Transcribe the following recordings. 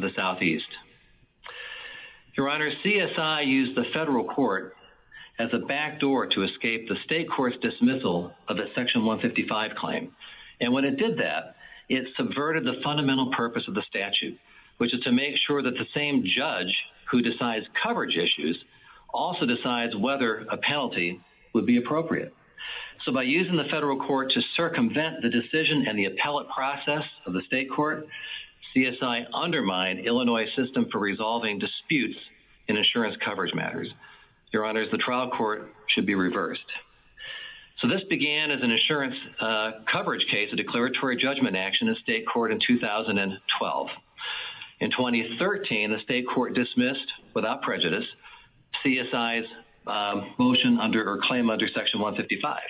the Southeast. Your Honor, CSI used the federal court as a backdoor to escape the state court's dismissal of the Section 155 claim. And when it did that, it subverted the fundamental purpose of the statute, which is to make sure that the same judge who decides coverage issues also decides whether a penalty would be appropriate. So by using the federal court to circumvent the decision and the appellate process of the state court, CSI undermined Illinois' system for resolving disputes in insurance coverage matters. Your Honors, the trial court should be reversed. So this began as an insurance coverage case, a declaratory judgment action in state court in 2012. In 2013, the state court dismissed, without prejudice, CSI's motion or claim under Section 155.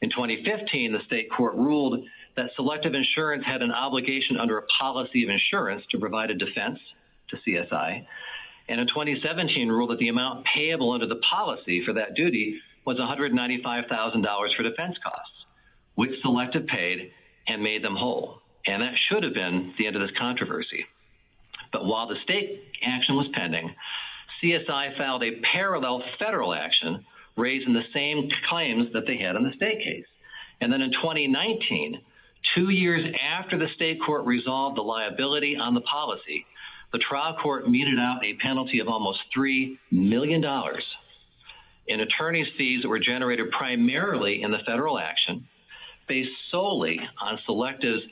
In 2015, the state court ruled that selective insurance had an obligation under a policy of insurance to provide a defense to CSI, and in 2017 ruled that the amount payable under the policy for that duty was $195,000 for defense costs, which Selective paid and made them whole. And that should have been the end of this controversy. But while the state action was pending, CSI filed a parallel federal action raising the same claims that they had on the state case. And then in 2019, two years after the state court resolved the liability on the policy, the trial court meted out a penalty of almost $3 million in attorney's fees that were generated primarily in the federal action based solely on Selective's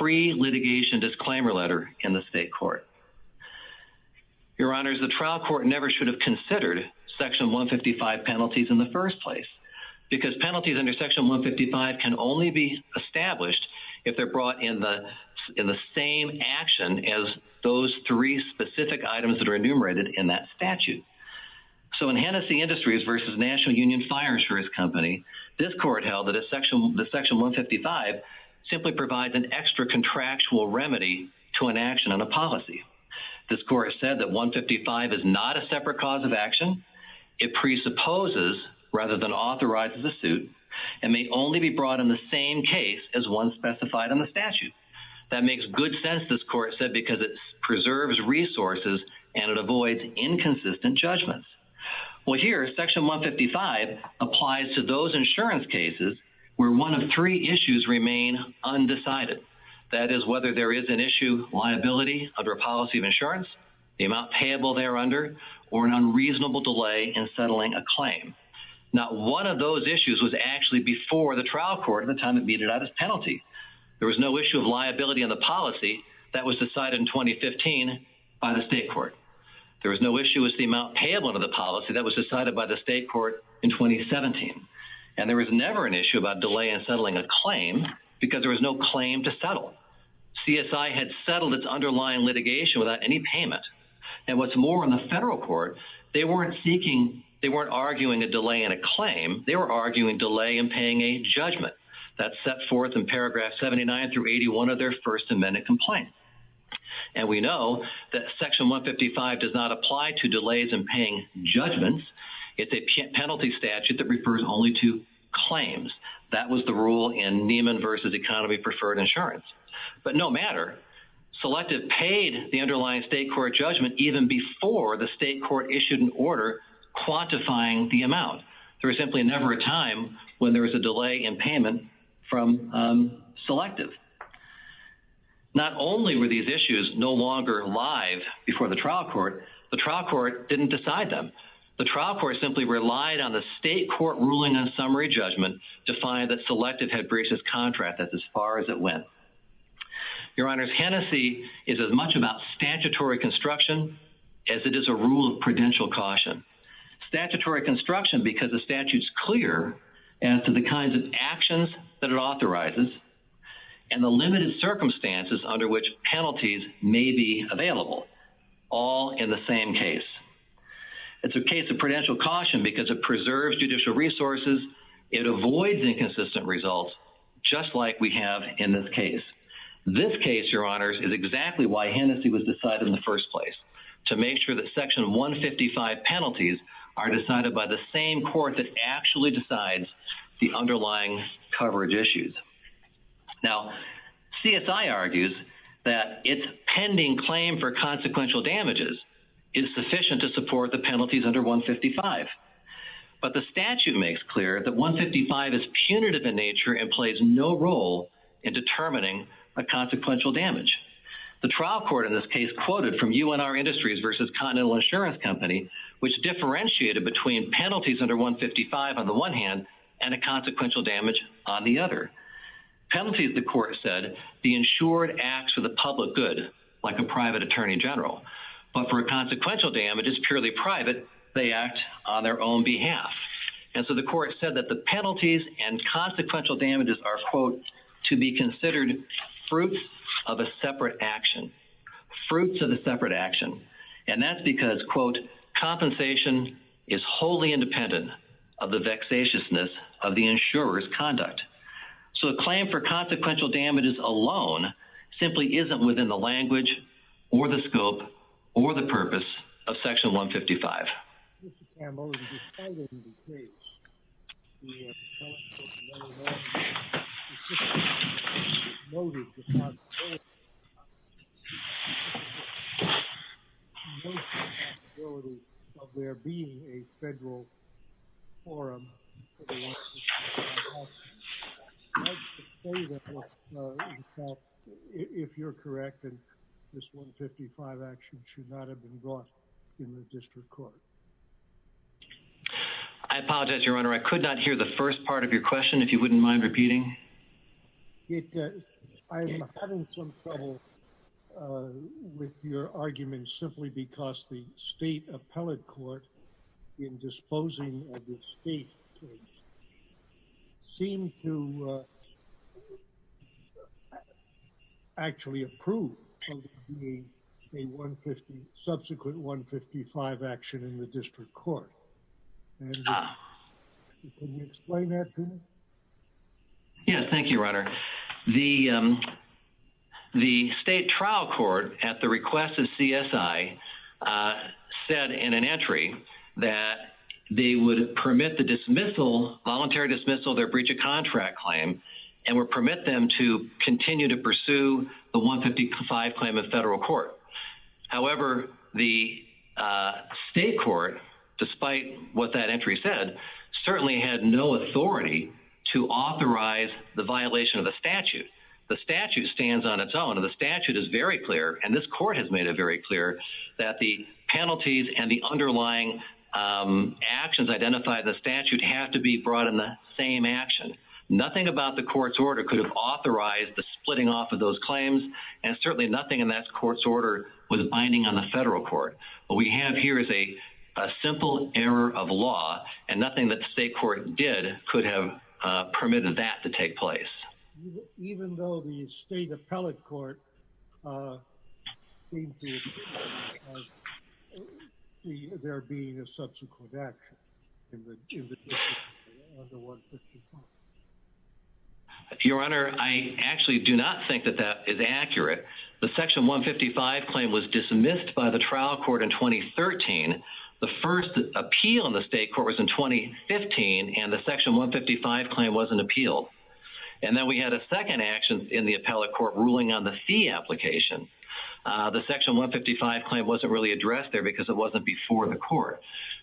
pre-litigation disclaimer letter in the state court. Your Honors, the trial court never should have considered Section 155 penalties in the first place because penalties under Section 155 can only be established if they're brought in the same action as those three specific items that are enumerated in that statute. So in Hennessy Industries versus National Union Fire Insurance Company, this court held that Section 155 simply provides an extra contractual remedy to an action on a policy. This court said that 155 is not a separate cause of action. It presupposes rather than authorizes a suit and may only be brought in the same case as one specified in the statute. That makes good sense, this court reserves resources and it avoids inconsistent judgments. Well here, Section 155 applies to those insurance cases where one of three issues remain undecided. That is whether there is an issue, liability under a policy of insurance, the amount payable there under, or an unreasonable delay in settling a claim. Now one of those issues was actually before the trial court at the time it meted out its penalty. There was no issue of liability in the policy that was decided in 2015 by the state court. There was no issue with the amount payable to the policy that was decided by the state court in 2017. And there was never an issue about delay in settling a claim because there was no claim to settle. CSI had settled its underlying litigation without any payment. And what's more, in the federal court, they weren't seeking, they weren't arguing a delay in a claim, they were arguing delay in paying a judgment that set forth in paragraph 79 through 81 of their first amendment complaint. And we know that Section 155 does not apply to delays in paying judgments. It's a penalty statute that refers only to claims. That was the rule in Nieman v. Economy Preferred Insurance. But no matter, Selective paid the underlying state court judgment even before the state court issued an order quantifying the amount. There was simply never a time when there was a delay in payment from Selective. Not only were these issues no longer alive before the trial court, the trial court didn't decide them. The trial court simply relied on the state court ruling on summary judgment to find that Selective had breached its contract as far as it went. Your Honors, Hennessey is as much about statutory construction as it is a rule of prudential caution. Statutory construction because the statute's clear as to the kinds of actions that it authorizes and the limited circumstances under which penalties may be available, all in the same case. It's a case of prudential caution because it preserves judicial resources, it avoids inconsistent results, just like we have in this case. This case, Your Honors, is exactly why Hennessey was decided in the first place, to make sure that Section 155 penalties are decided by the same court that actually decides the underlying coverage issues. Now, CSI argues that its pending claim for consequential damages is sufficient to support the penalties under 155. But the statute makes clear that 155 is punitive in nature and plays no role in determining a consequential damage. The trial court in this case quoted from UNR Industries v. Continental Insurance Company, which differentiated between penalties under 155 on the one hand and a consequential damage on the other. Penalties, the court said, the insured acts for the public good, like a private attorney general. But for consequential damages, purely private, they act on their own behalf. And so the court said that the penalties and consequential damages to be considered fruits of a separate action. Fruits of a separate action. And that's because, quote, compensation is wholly independent of the vexatiousness of the insurer's conduct. So a claim for consequential damages alone simply isn't within the language or the scope or the purpose of section 155. I'm only defending the case. If you're correct, this 155 action should not have been brought in the district court. I apologize, Your Honor. I could not hear the first part of your question, if you wouldn't mind repeating. I'm having some trouble with your argument simply because the state appellate court in disposing of the state case seemed to have actually approved a subsequent 155 action in the district court. Can you explain that to me? Yeah, thank you, Your Honor. The state trial court at the request of CSI said in an entry that they would permit the voluntary dismissal of their breach of contract claim and would permit them to continue to pursue the 155 claim in federal court. However, the state court, despite what that entry said, certainly had no authority to authorize the violation of the statute. The statute stands on its own, and the statute is very clear, and this court has made it very clear that the penalties and the underlying actions identified in the statute have to be brought in the same action. Nothing about the court's order could have authorized the splitting off of those claims, and certainly nothing in that court's order was binding on the federal court. What we have here is a simple error of law, and nothing that the state court did could have permitted that to take place. Even though the state appellate court there being a subsequent action. Your Honor, I actually do not think that that is accurate. The section 155 claim was dismissed by the trial court in 2013. The first appeal in the state court was in 2015, and the section 155 wasn't appealed, and then we had a second action in the appellate court ruling on the fee application. The section 155 claim wasn't really addressed there because it wasn't before the court,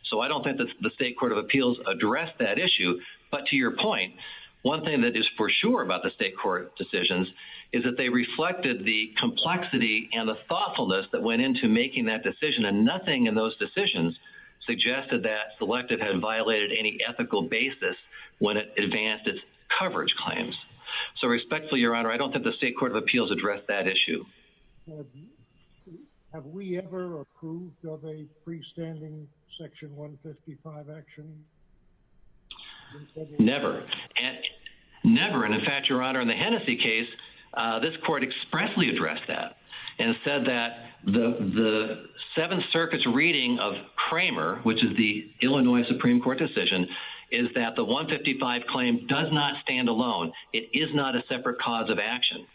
so I don't think that the state court of appeals addressed that issue, but to your point, one thing that is for sure about the state court decisions is that they reflected the complexity and the thoughtfulness that went into making that decision, and nothing in those decisions suggested that Selective had violated any ethical basis when it advanced its coverage claims. So respectfully, Your Honor, I don't think the state court of appeals addressed that issue. Have we ever approved of a freestanding section 155 action? Never. Never, and in fact, Your Honor, in the Hennessey case, this court expressly addressed that and said that the Seventh Circuit's reading of Kramer, which is the Illinois Supreme Court decision, is that the 155 claim does not stand alone. It is not a separate cause of action,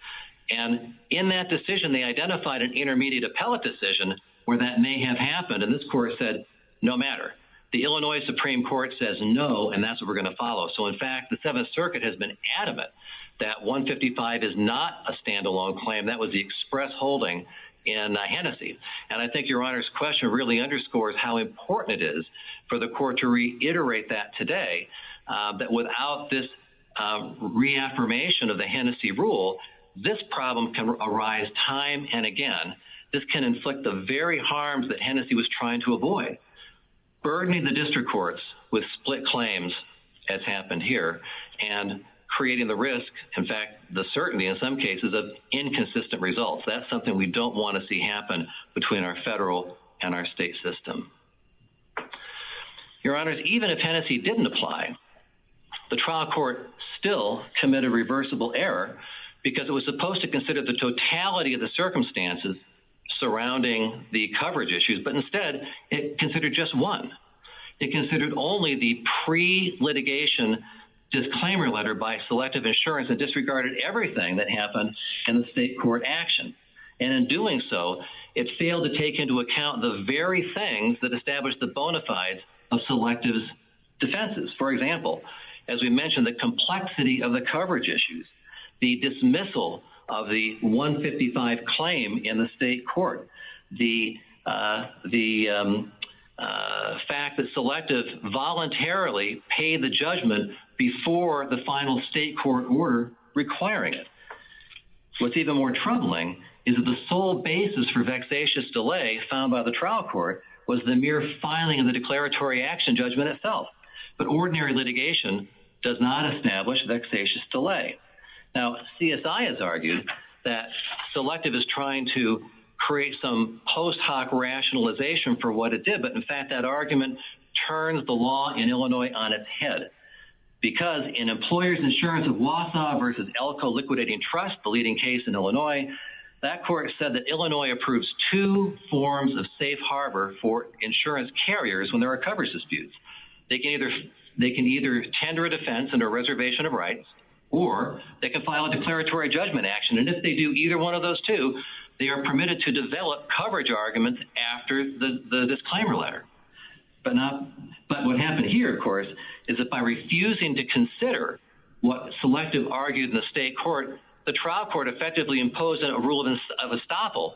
and in that decision, they identified an intermediate appellate decision where that may have happened, and this court said, no matter. The Illinois Supreme Court says no, and that's what we're going to follow. So in fact, the Seventh Circuit has been adamant that 155 is not a standalone claim. That was the express holding in Hennessey, and I think Your Honor's question really underscores how important it is for the court to reiterate that today, that without this reaffirmation of the Hennessey rule, this problem can arise time and again. This can inflict the very harms that Hennessey was trying to avoid, burdening the risk, in fact, the certainty, in some cases, of inconsistent results. That's something we don't want to see happen between our federal and our state system. Your Honor, even if Hennessey didn't apply, the trial court still committed reversible error because it was supposed to consider the totality of the circumstances surrounding the coverage issues, but instead, it considered just one. It considered only the pre-litigation disclaimer letter by Selective Insurance that disregarded everything that happened in the state court action, and in doing so, it failed to take into account the very things that established the bona fides of Selective's defenses. For example, as we mentioned, the complexity of the coverage issues, the dismissal of the 155 claim in the state court, the fact that Selective voluntarily paid the judgment before the final state court were requiring it. What's even more troubling is that the sole basis for vexatious delay found by the trial court was the mere filing of the declaratory action judgment itself, but ordinary litigation does not establish vexatious delay. Now, CSI has argued that Selective is trying to create some post hoc rationalization for what it did, but in fact, that argument turns the law in Illinois on its head because in Employers Insurance of Wausau versus Elko Liquidating Trust, the leading case in Illinois, that court said that Illinois approves two forms of safe harbor for insurance carriers when there are coverage disputes. They can either tender a defense and a reservation of rights, or they can file a declaratory judgment action, and if they do either one of those two, they are permitted to develop coverage arguments after the disclaimer letter. But what happened here, of course, is that by refusing to consider what Selective argued in the state court, the trial court effectively imposed a rule of estoppel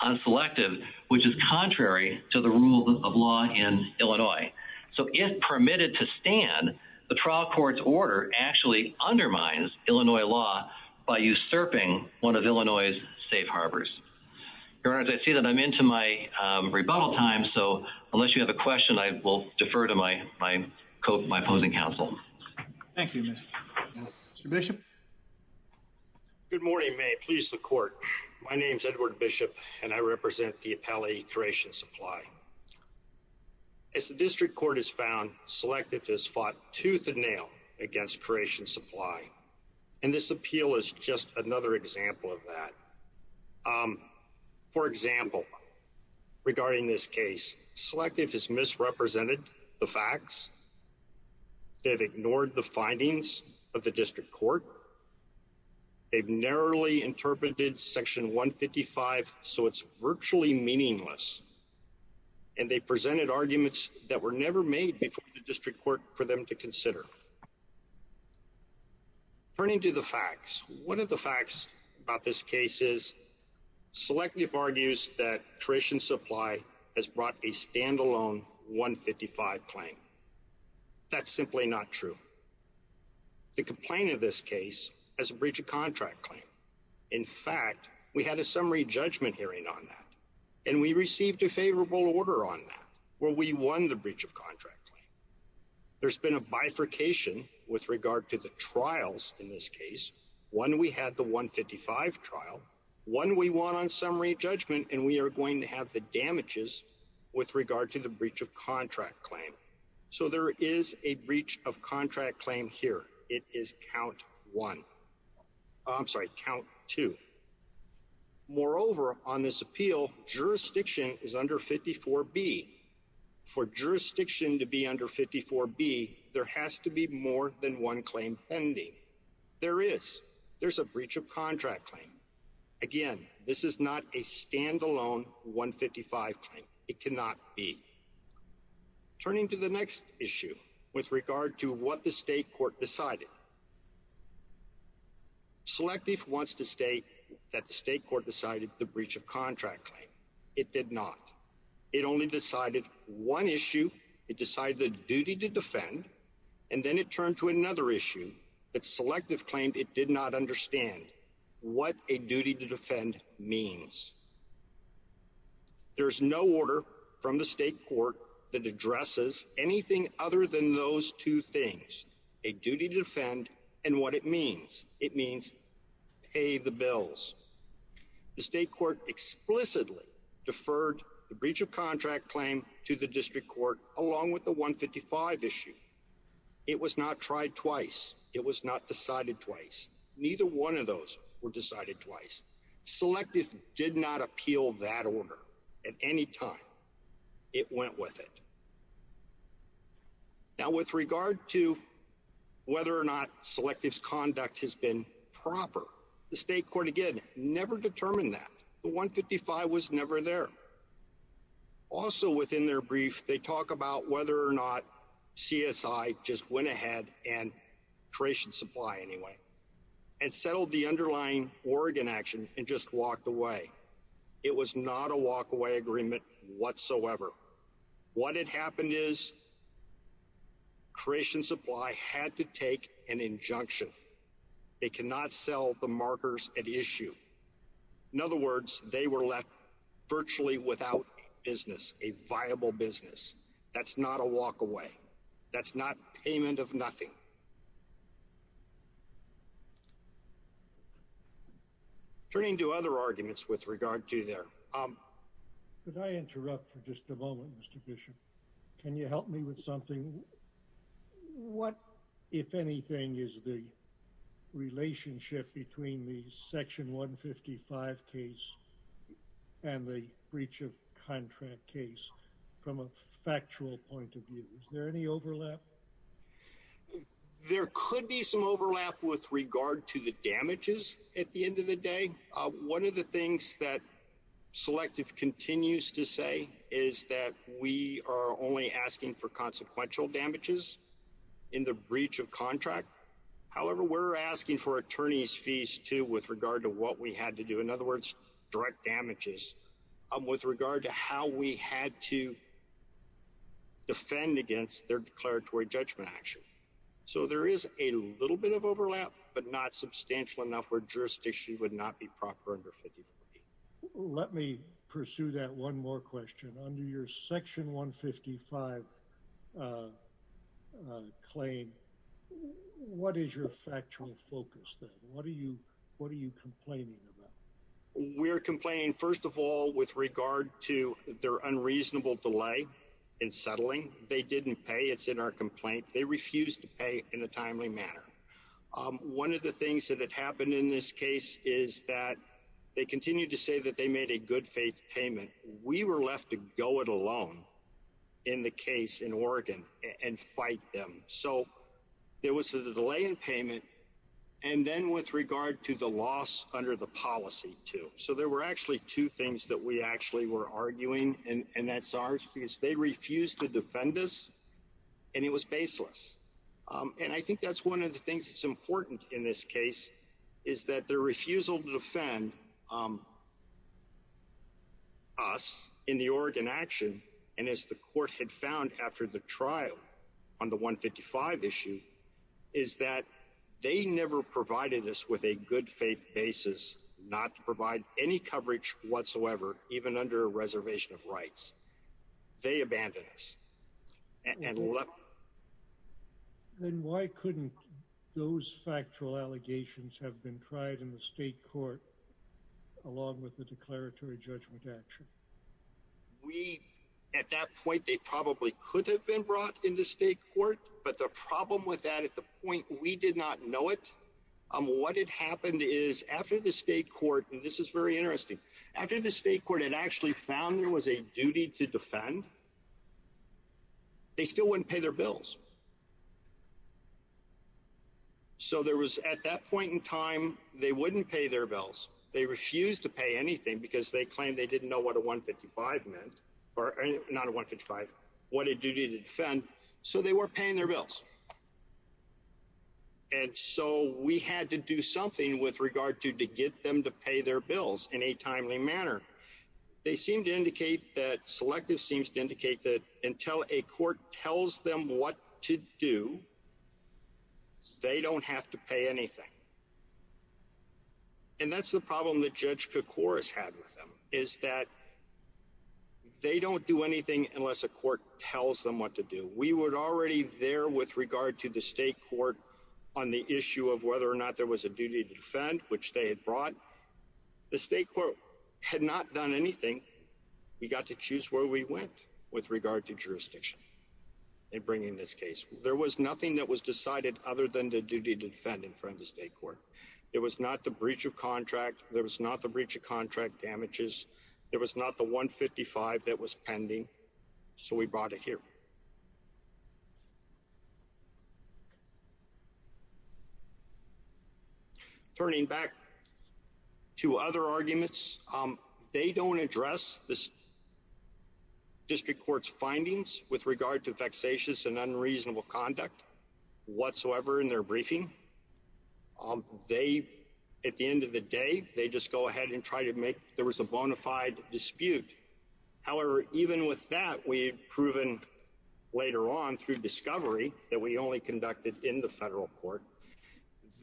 on Selective, which is contrary to the rule of law in Illinois. If permitted to stand, the trial court's order actually undermines Illinois law by usurping one of Illinois' safe harbors. Your Honor, I see that I'm into my rebuttal time, so unless you have a question, I will defer to my opposing counsel. Thank you, Mr. Bishop. Good morning, may it please the court. My name is Edward Bishop, and I represent the District Court of Illinois. As the court has found, Selective has fought tooth and nail against Croatian Supply, and this appeal is just another example of that. For example, regarding this case, Selective has misrepresented the facts. They've ignored the findings of the District Court. They've narrowly interpreted Section 155, so it's virtually meaningless, and they presented arguments that were never made before the District Court for them to consider. Turning to the facts, one of the facts about this case is Selective argues that Croatian Supply has brought a standalone 155 claim. That's simply not true. The complaint of this case has a breach of contract claim. In fact, we had a summary judgment hearing on that, and we received a favorable order on that, where we won the breach of contract claim. There's been a bifurcation with regard to the trials in this case. One, we had the 155 trial. One, we won on summary judgment, and we are going to have the damages with regard to the breach of contract claim. So there is a breach of contract claim here. It is count one. I'm sorry, count two. Moreover, on this appeal, jurisdiction is under 54B. For jurisdiction to be under 54B, there has to be more than one claim pending. There is. There's a breach of contract claim. Again, this is not a standalone 155 claim. It cannot be. Turning to the next issue with regard to what the State Court decided, Selective wants to state that the State Court decided the breach of contract claim. It did not. It only decided one issue. It decided the duty to defend, and then it turned to another issue that Selective claimed it did not understand what a duty to defend means. There's no order from the State Court that addresses anything other than those two things, a duty to defend, and what it means. It means pay the bills. The State Court explicitly deferred the breach of contract claim to the District Court, along with the 155 issue. It was not tried twice. It was not decided twice. Neither one of those were decided twice. Selective did not appeal that order at any time. It went with it. Now, with regard to whether or not Selective's conduct has been proper, the State Court, again, never determined that. The 155 was never there. Also, within their brief, they talk about whether or not CSI just went ahead, and Creation Supply anyway, and settled the underlying Oregon action and just walked away. It was not a walk-away agreement whatsoever. What had happened is Creation Supply had to take an injunction. They cannot sell the markers at issue. In other words, they were left virtually without business, a viable business. That's not a walk-away. That's not payment of nothing. Turning to other arguments with regard to their... Could I interrupt for just a moment, Mr. Bishop? Can you help me with something? What, if anything, is the relationship between the Section 155 case and the breach of contract case from a factual point of view? Is there any overlap? There could be some overlap with regard to the damages at the end of the day. One of the things that Selective continues to say is that we are only asking for consequential damages in the breach of contract. However, we're asking for attorney's fees, too, with regard to what we had to do. In other words, direct damages with regard to how we had to defend against their declaratory judgment action. There is a little bit of overlap, but not substantial enough where jurisdiction would not be proper under 155. Let me pursue that one more question. Under your Section 155 claim, what is your factual focus then? What are you complaining about? We're complaining, first of all, with regard to their unreasonable delay in settling. They didn't pay. It's in our complaint. They refused to pay in a timely manner. One of the things that had to be done in this case is that they continued to say that they made a good faith payment. We were left to go it alone in the case in Oregon and fight them. So there was a delay in payment and then with regard to the loss under the policy, too. So there were actually two things that we actually were arguing, and that's ours, because they refused to defend us, and it was baseless. I think that's one of the things that's important in this case, is that their refusal to defend us in the Oregon action, and as the court had found after the trial on the 155 issue, is that they never provided us with a good faith basis not to provide any coverage whatsoever, even under a reservation of rights. They abandoned us. Then why couldn't those factual allegations have been tried in the state court, along with the declaratory judgment action? We, at that point, they probably could have been brought into state court, but the problem with that at the point we did not know it, what had happened is after the state court, and this is interesting, after the state court had actually found there was a duty to defend, they still wouldn't pay their bills. So there was at that point in time, they wouldn't pay their bills. They refused to pay anything because they claimed they didn't know what a 155 meant, or not a 155, what a duty to defend, so they weren't paying their bills. And so we had to do something with regard to, to get them to pay their bills in a timely manner. They seem to indicate that, Selective seems to indicate that until a court tells them what to do, they don't have to pay anything. And that's the problem that Judge Kukor has had with them, is that they don't do anything unless a court tells them what to do. We were already there with regard to the state court on the issue of whether or not there was a duty to defend, which they had brought. The state court had not done anything. We got to choose where we went with regard to jurisdiction in bringing this case. There was nothing that was decided other than the duty to defend in front of the state court. It was not the breach of contract. There was not the breach of contract damages. There was not the 155 that was pending. So we brought it here. Turning back to other arguments, they don't address the district court's findings with regard to vexatious and unreasonable conduct whatsoever in their briefing. They, at the end of the day, they just go ahead and try to make, there was a bona fide dispute. However, even with that, we've proven later on through discovery that we only conducted in the federal court,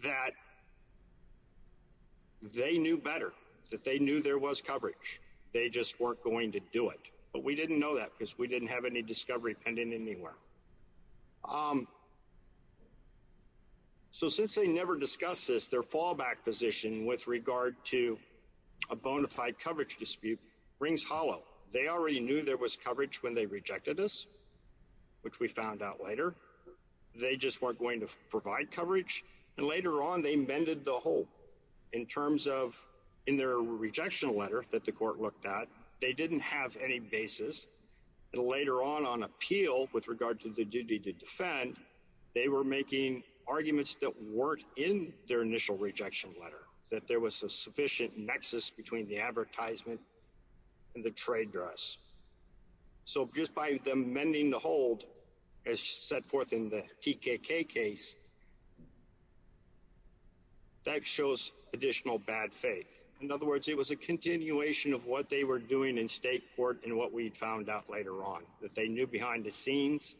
that they knew better, that they knew there was coverage. They just weren't going to do it. But we didn't know that because we didn't have any discovery pending anywhere. So since they never discussed this, their fallback position with regard to a bona fide coverage dispute rings hollow. They already knew there was coverage when they rejected us, which we found out later. They just weren't going to provide coverage. And later on, they mended the hole in terms of, in their rejection letter that the court looked at, they didn't have any basis. And later on, on appeal with regard to the duty to defend, they were making arguments that weren't in their initial rejection letter, that there was a mismatch between the advertisement and the trade dress. So just by them mending the hold, as set forth in the TKK case, that shows additional bad faith. In other words, it was a continuation of what they were doing in state court and what we found out later on, that they knew behind the scenes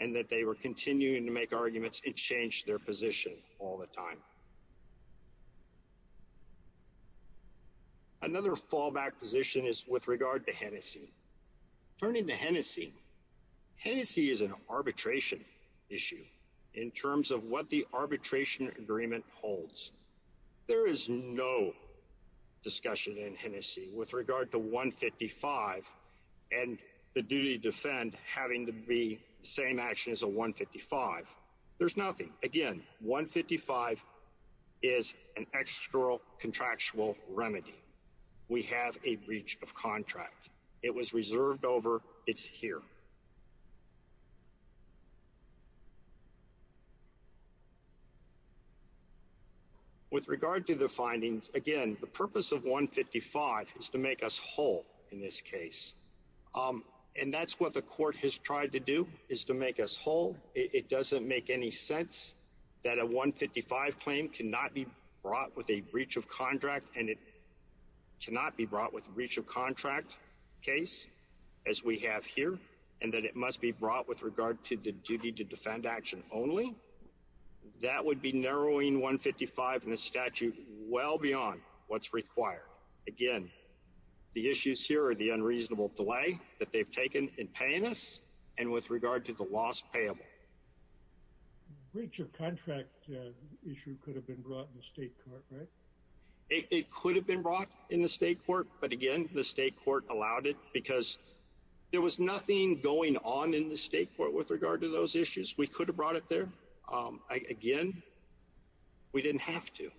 and that they were continuing to make arguments and change their position all the time. Another fallback position is with regard to Hennessey. Turning to Hennessey, Hennessey is an arbitration issue in terms of what the arbitration agreement holds. There is no discussion in Hennessey with regard to 155 and the duty to defend having to be the 155. There's nothing. Again, 155 is an extra contractual remedy. We have a breach of contract. It was reserved over, it's here. With regard to the findings, again, the purpose of 155 is to make us whole. It doesn't make any sense that a 155 claim cannot be brought with a breach of contract and it cannot be brought with breach of contract case, as we have here, and that it must be brought with regard to the duty to defend action only. That would be narrowing 155 in the statute well beyond what's required. Again, the issues here are the unreasonable delay that they've in paying us and with regard to the loss payable. Breach of contract issue could have been brought in the state court, right? It could have been brought in the state court, but again, the state court allowed it because there was nothing going on in the state court with regard to those issues. We could have brought it there. Again, we didn't have to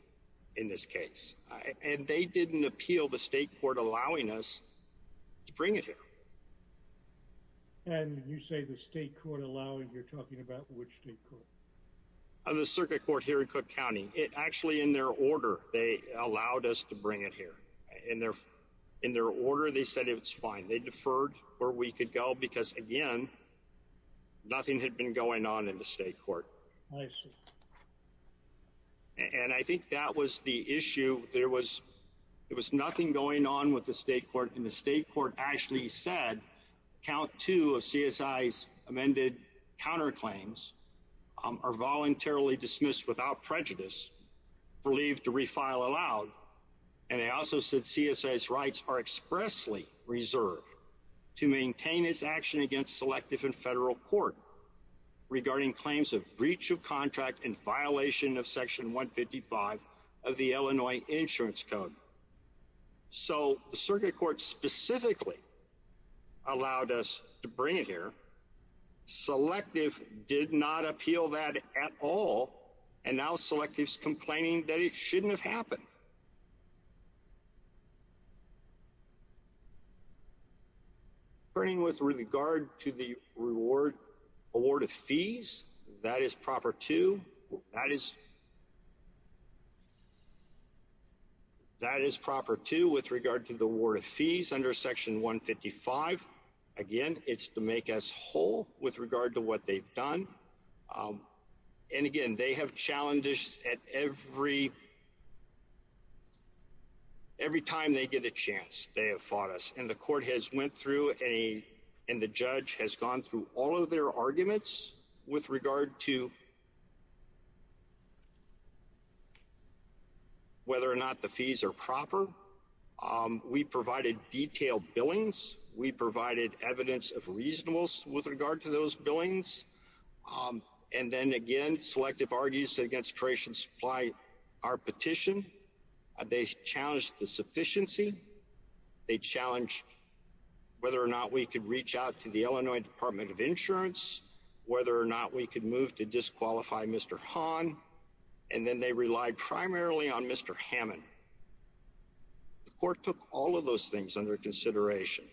in this case, and they didn't appeal the state court allowing us to bring it here. And you say the state court allowing, you're talking about which state court? The circuit court here in Cook County. It actually, in their order, they allowed us to bring it here. In their order, they said it was fine. They deferred where we could go because, again, nothing had been going on in the state court. I see. And I think that was the issue. There was nothing going on with the state court, and the state court actually said count two of CSI's amended counterclaims are voluntarily dismissed without prejudice for leave to refile allowed. And they also said CSI's rights are expressly reserved to maintain its action against selective and federal court regarding claims of breach of contract and Illinois insurance code. So the circuit court specifically allowed us to bring it here. Selective did not appeal that at all, and now Selective's complaining that it shouldn't have been. That is proper, too, with regard to the award of fees under Section 155. Again, it's to make us whole with regard to what they've done. And again, they have challenged us at every time they get a chance, they have fought us. And the court has went through, and the judge has gone through all of their arguments with regard to whether or not the fees are proper. We provided detailed billings. We provided evidence of reasonableness with regard to those billings. And then again, Selective argues against creation supply. Our petition, they challenged the sufficiency. They challenged whether or not we could reach out to the Illinois Department of Insurance, whether or not we could move to Hammond. The court took all of those things under consideration.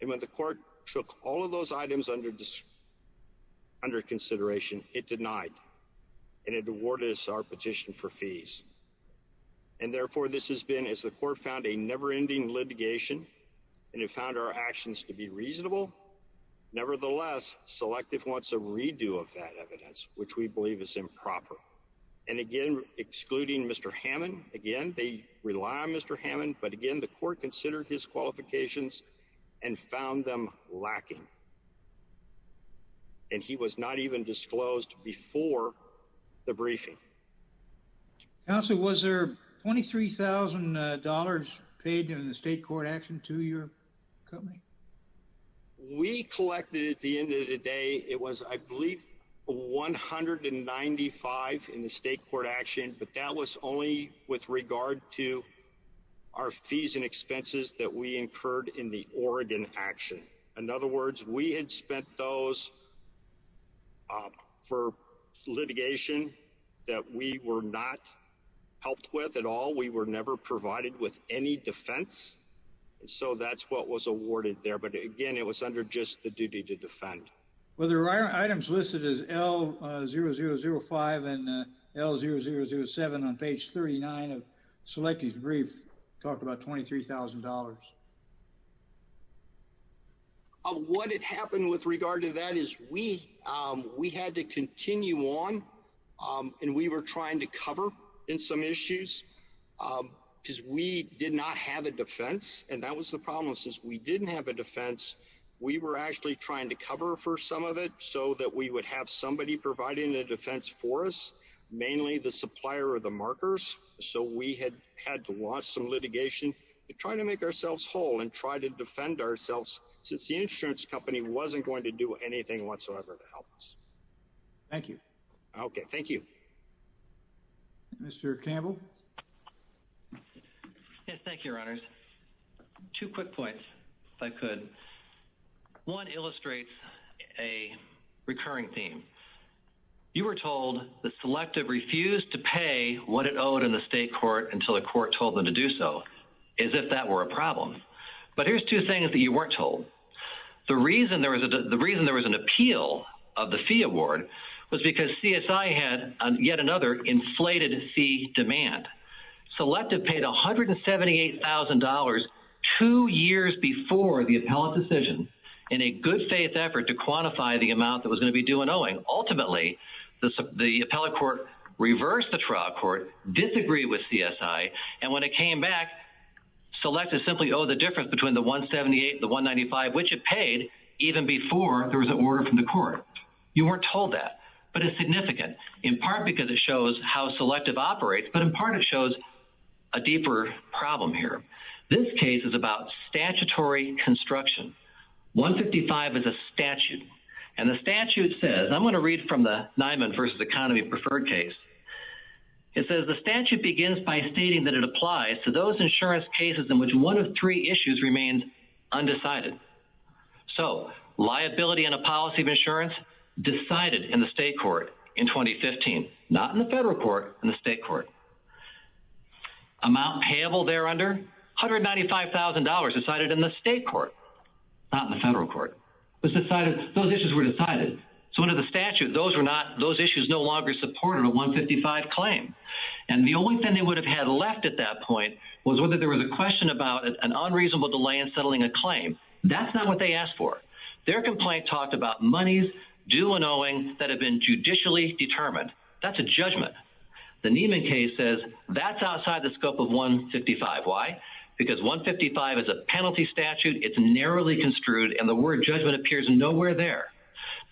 And when the court took all of those items under consideration, it denied, and it awarded us our petition for fees. And therefore, this has been, as the court found, a never-ending litigation, and it found our actions to be reasonable. Nevertheless, Selective wants a redo of that petition. And again, the court considered Mr. Hammond. Again, they rely on Mr. Hammond. But again, the court considered his qualifications and found them lacking. And he was not even disclosed before the briefing. Council, was there $23,000 paid in the state court action to your company? We collected, at the end of the day, it was, I believe, $195,000 in the state court action. But that was only with regard to our fees and expenses that we incurred in the Oregon action. In other words, we had spent those for litigation that we were not helped with at all. We were never provided with any defense. And so that's what was awarded there. But again, it was under just the duty to defend. Were there items listed as L0005 and L0007 on page 39 of Selective's brief talking about $23,000? What had happened with regard to that is we had to continue on, and we were trying to cover in some issues because we did not have a defense. And that was the problem. Since we didn't have a defense, we were actually trying to cover for some of it so that we would have somebody providing a defense for us, mainly the supplier of the markers. So we had had to launch some litigation to try to make ourselves whole and try to defend ourselves since the insurance company wasn't going to do anything whatsoever to help us. Thank you. Okay. Thank you. Mr. Campbell? Yes. Thank you, Your Honors. Two quick points, if I could. One illustrates a recurring theme. You were told that Selective refused to pay what it owed in the state court until the court told them to do so, as if that were a problem. But here's two things that you weren't told. The reason there was an appeal of the fee award was because CSI had yet another inflated fee demand. Selective paid $178,000 two years before the appellate decision in a good faith effort to quantify the amount that was going to be due and owing. Ultimately, the appellate court reversed the trial court, disagreed with CSI, and when it came back, Selective simply owed the difference between the $178,000 and the $195,000, which it paid even before there was an order from the court. You weren't told that. But it's significant, in part because it shows how Selective operates, but in part it shows a deeper problem here. This case is about statutory construction. 155 is a statute. And the statute says, I'm going to read from the Nyman v. Economy Preferred case. It says the statute begins by stating that it applies to those insurance cases in which one of three issues remained undecided. So liability in a policy of insurance decided in the state court in 2015. Not in the federal court, in the state court. Amount payable there under? $195,000 decided in the state court, not in the federal court. Those issues were decided. So under the statute, those issues no longer support a 155 claim. And the only thing they would have had at that point was whether there was a question about an unreasonable delay in settling a claim. That's not what they asked for. Their complaint talked about monies due and owing that had been judicially determined. That's a judgment. The Nyman case says that's outside the scope of 155. Why? Because 155 is a penalty statute. It's narrowly construed. And the word judgment appears nowhere there.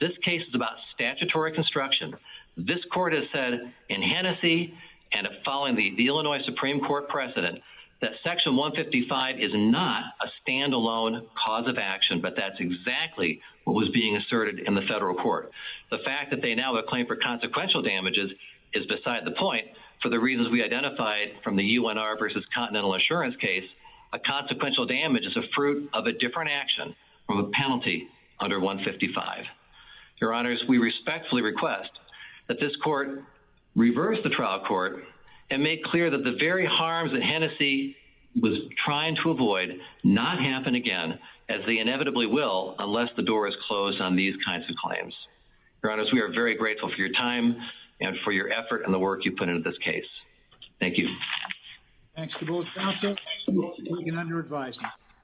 This case is about statutory construction. This court has said, in Hennessey and following the Illinois Supreme Court precedent, that section 155 is not a standalone cause of action, but that's exactly what was being asserted in the federal court. The fact that they now have a claim for consequential damages is beside the point. For the reasons we identified from the UNR versus Continental Insurance case, a consequential damage is a fruit of a different action from a penalty under 155. Your honors, we respectfully request that this court reverse the trial court and make clear that the very harms that Hennessey was trying to avoid not happen again, as they inevitably will unless the door is closed on these kinds of claims. Your honors, we are very grateful for your time and for your effort and the work you put into this case. Thank you. Thanks to both counsel. We can under advise.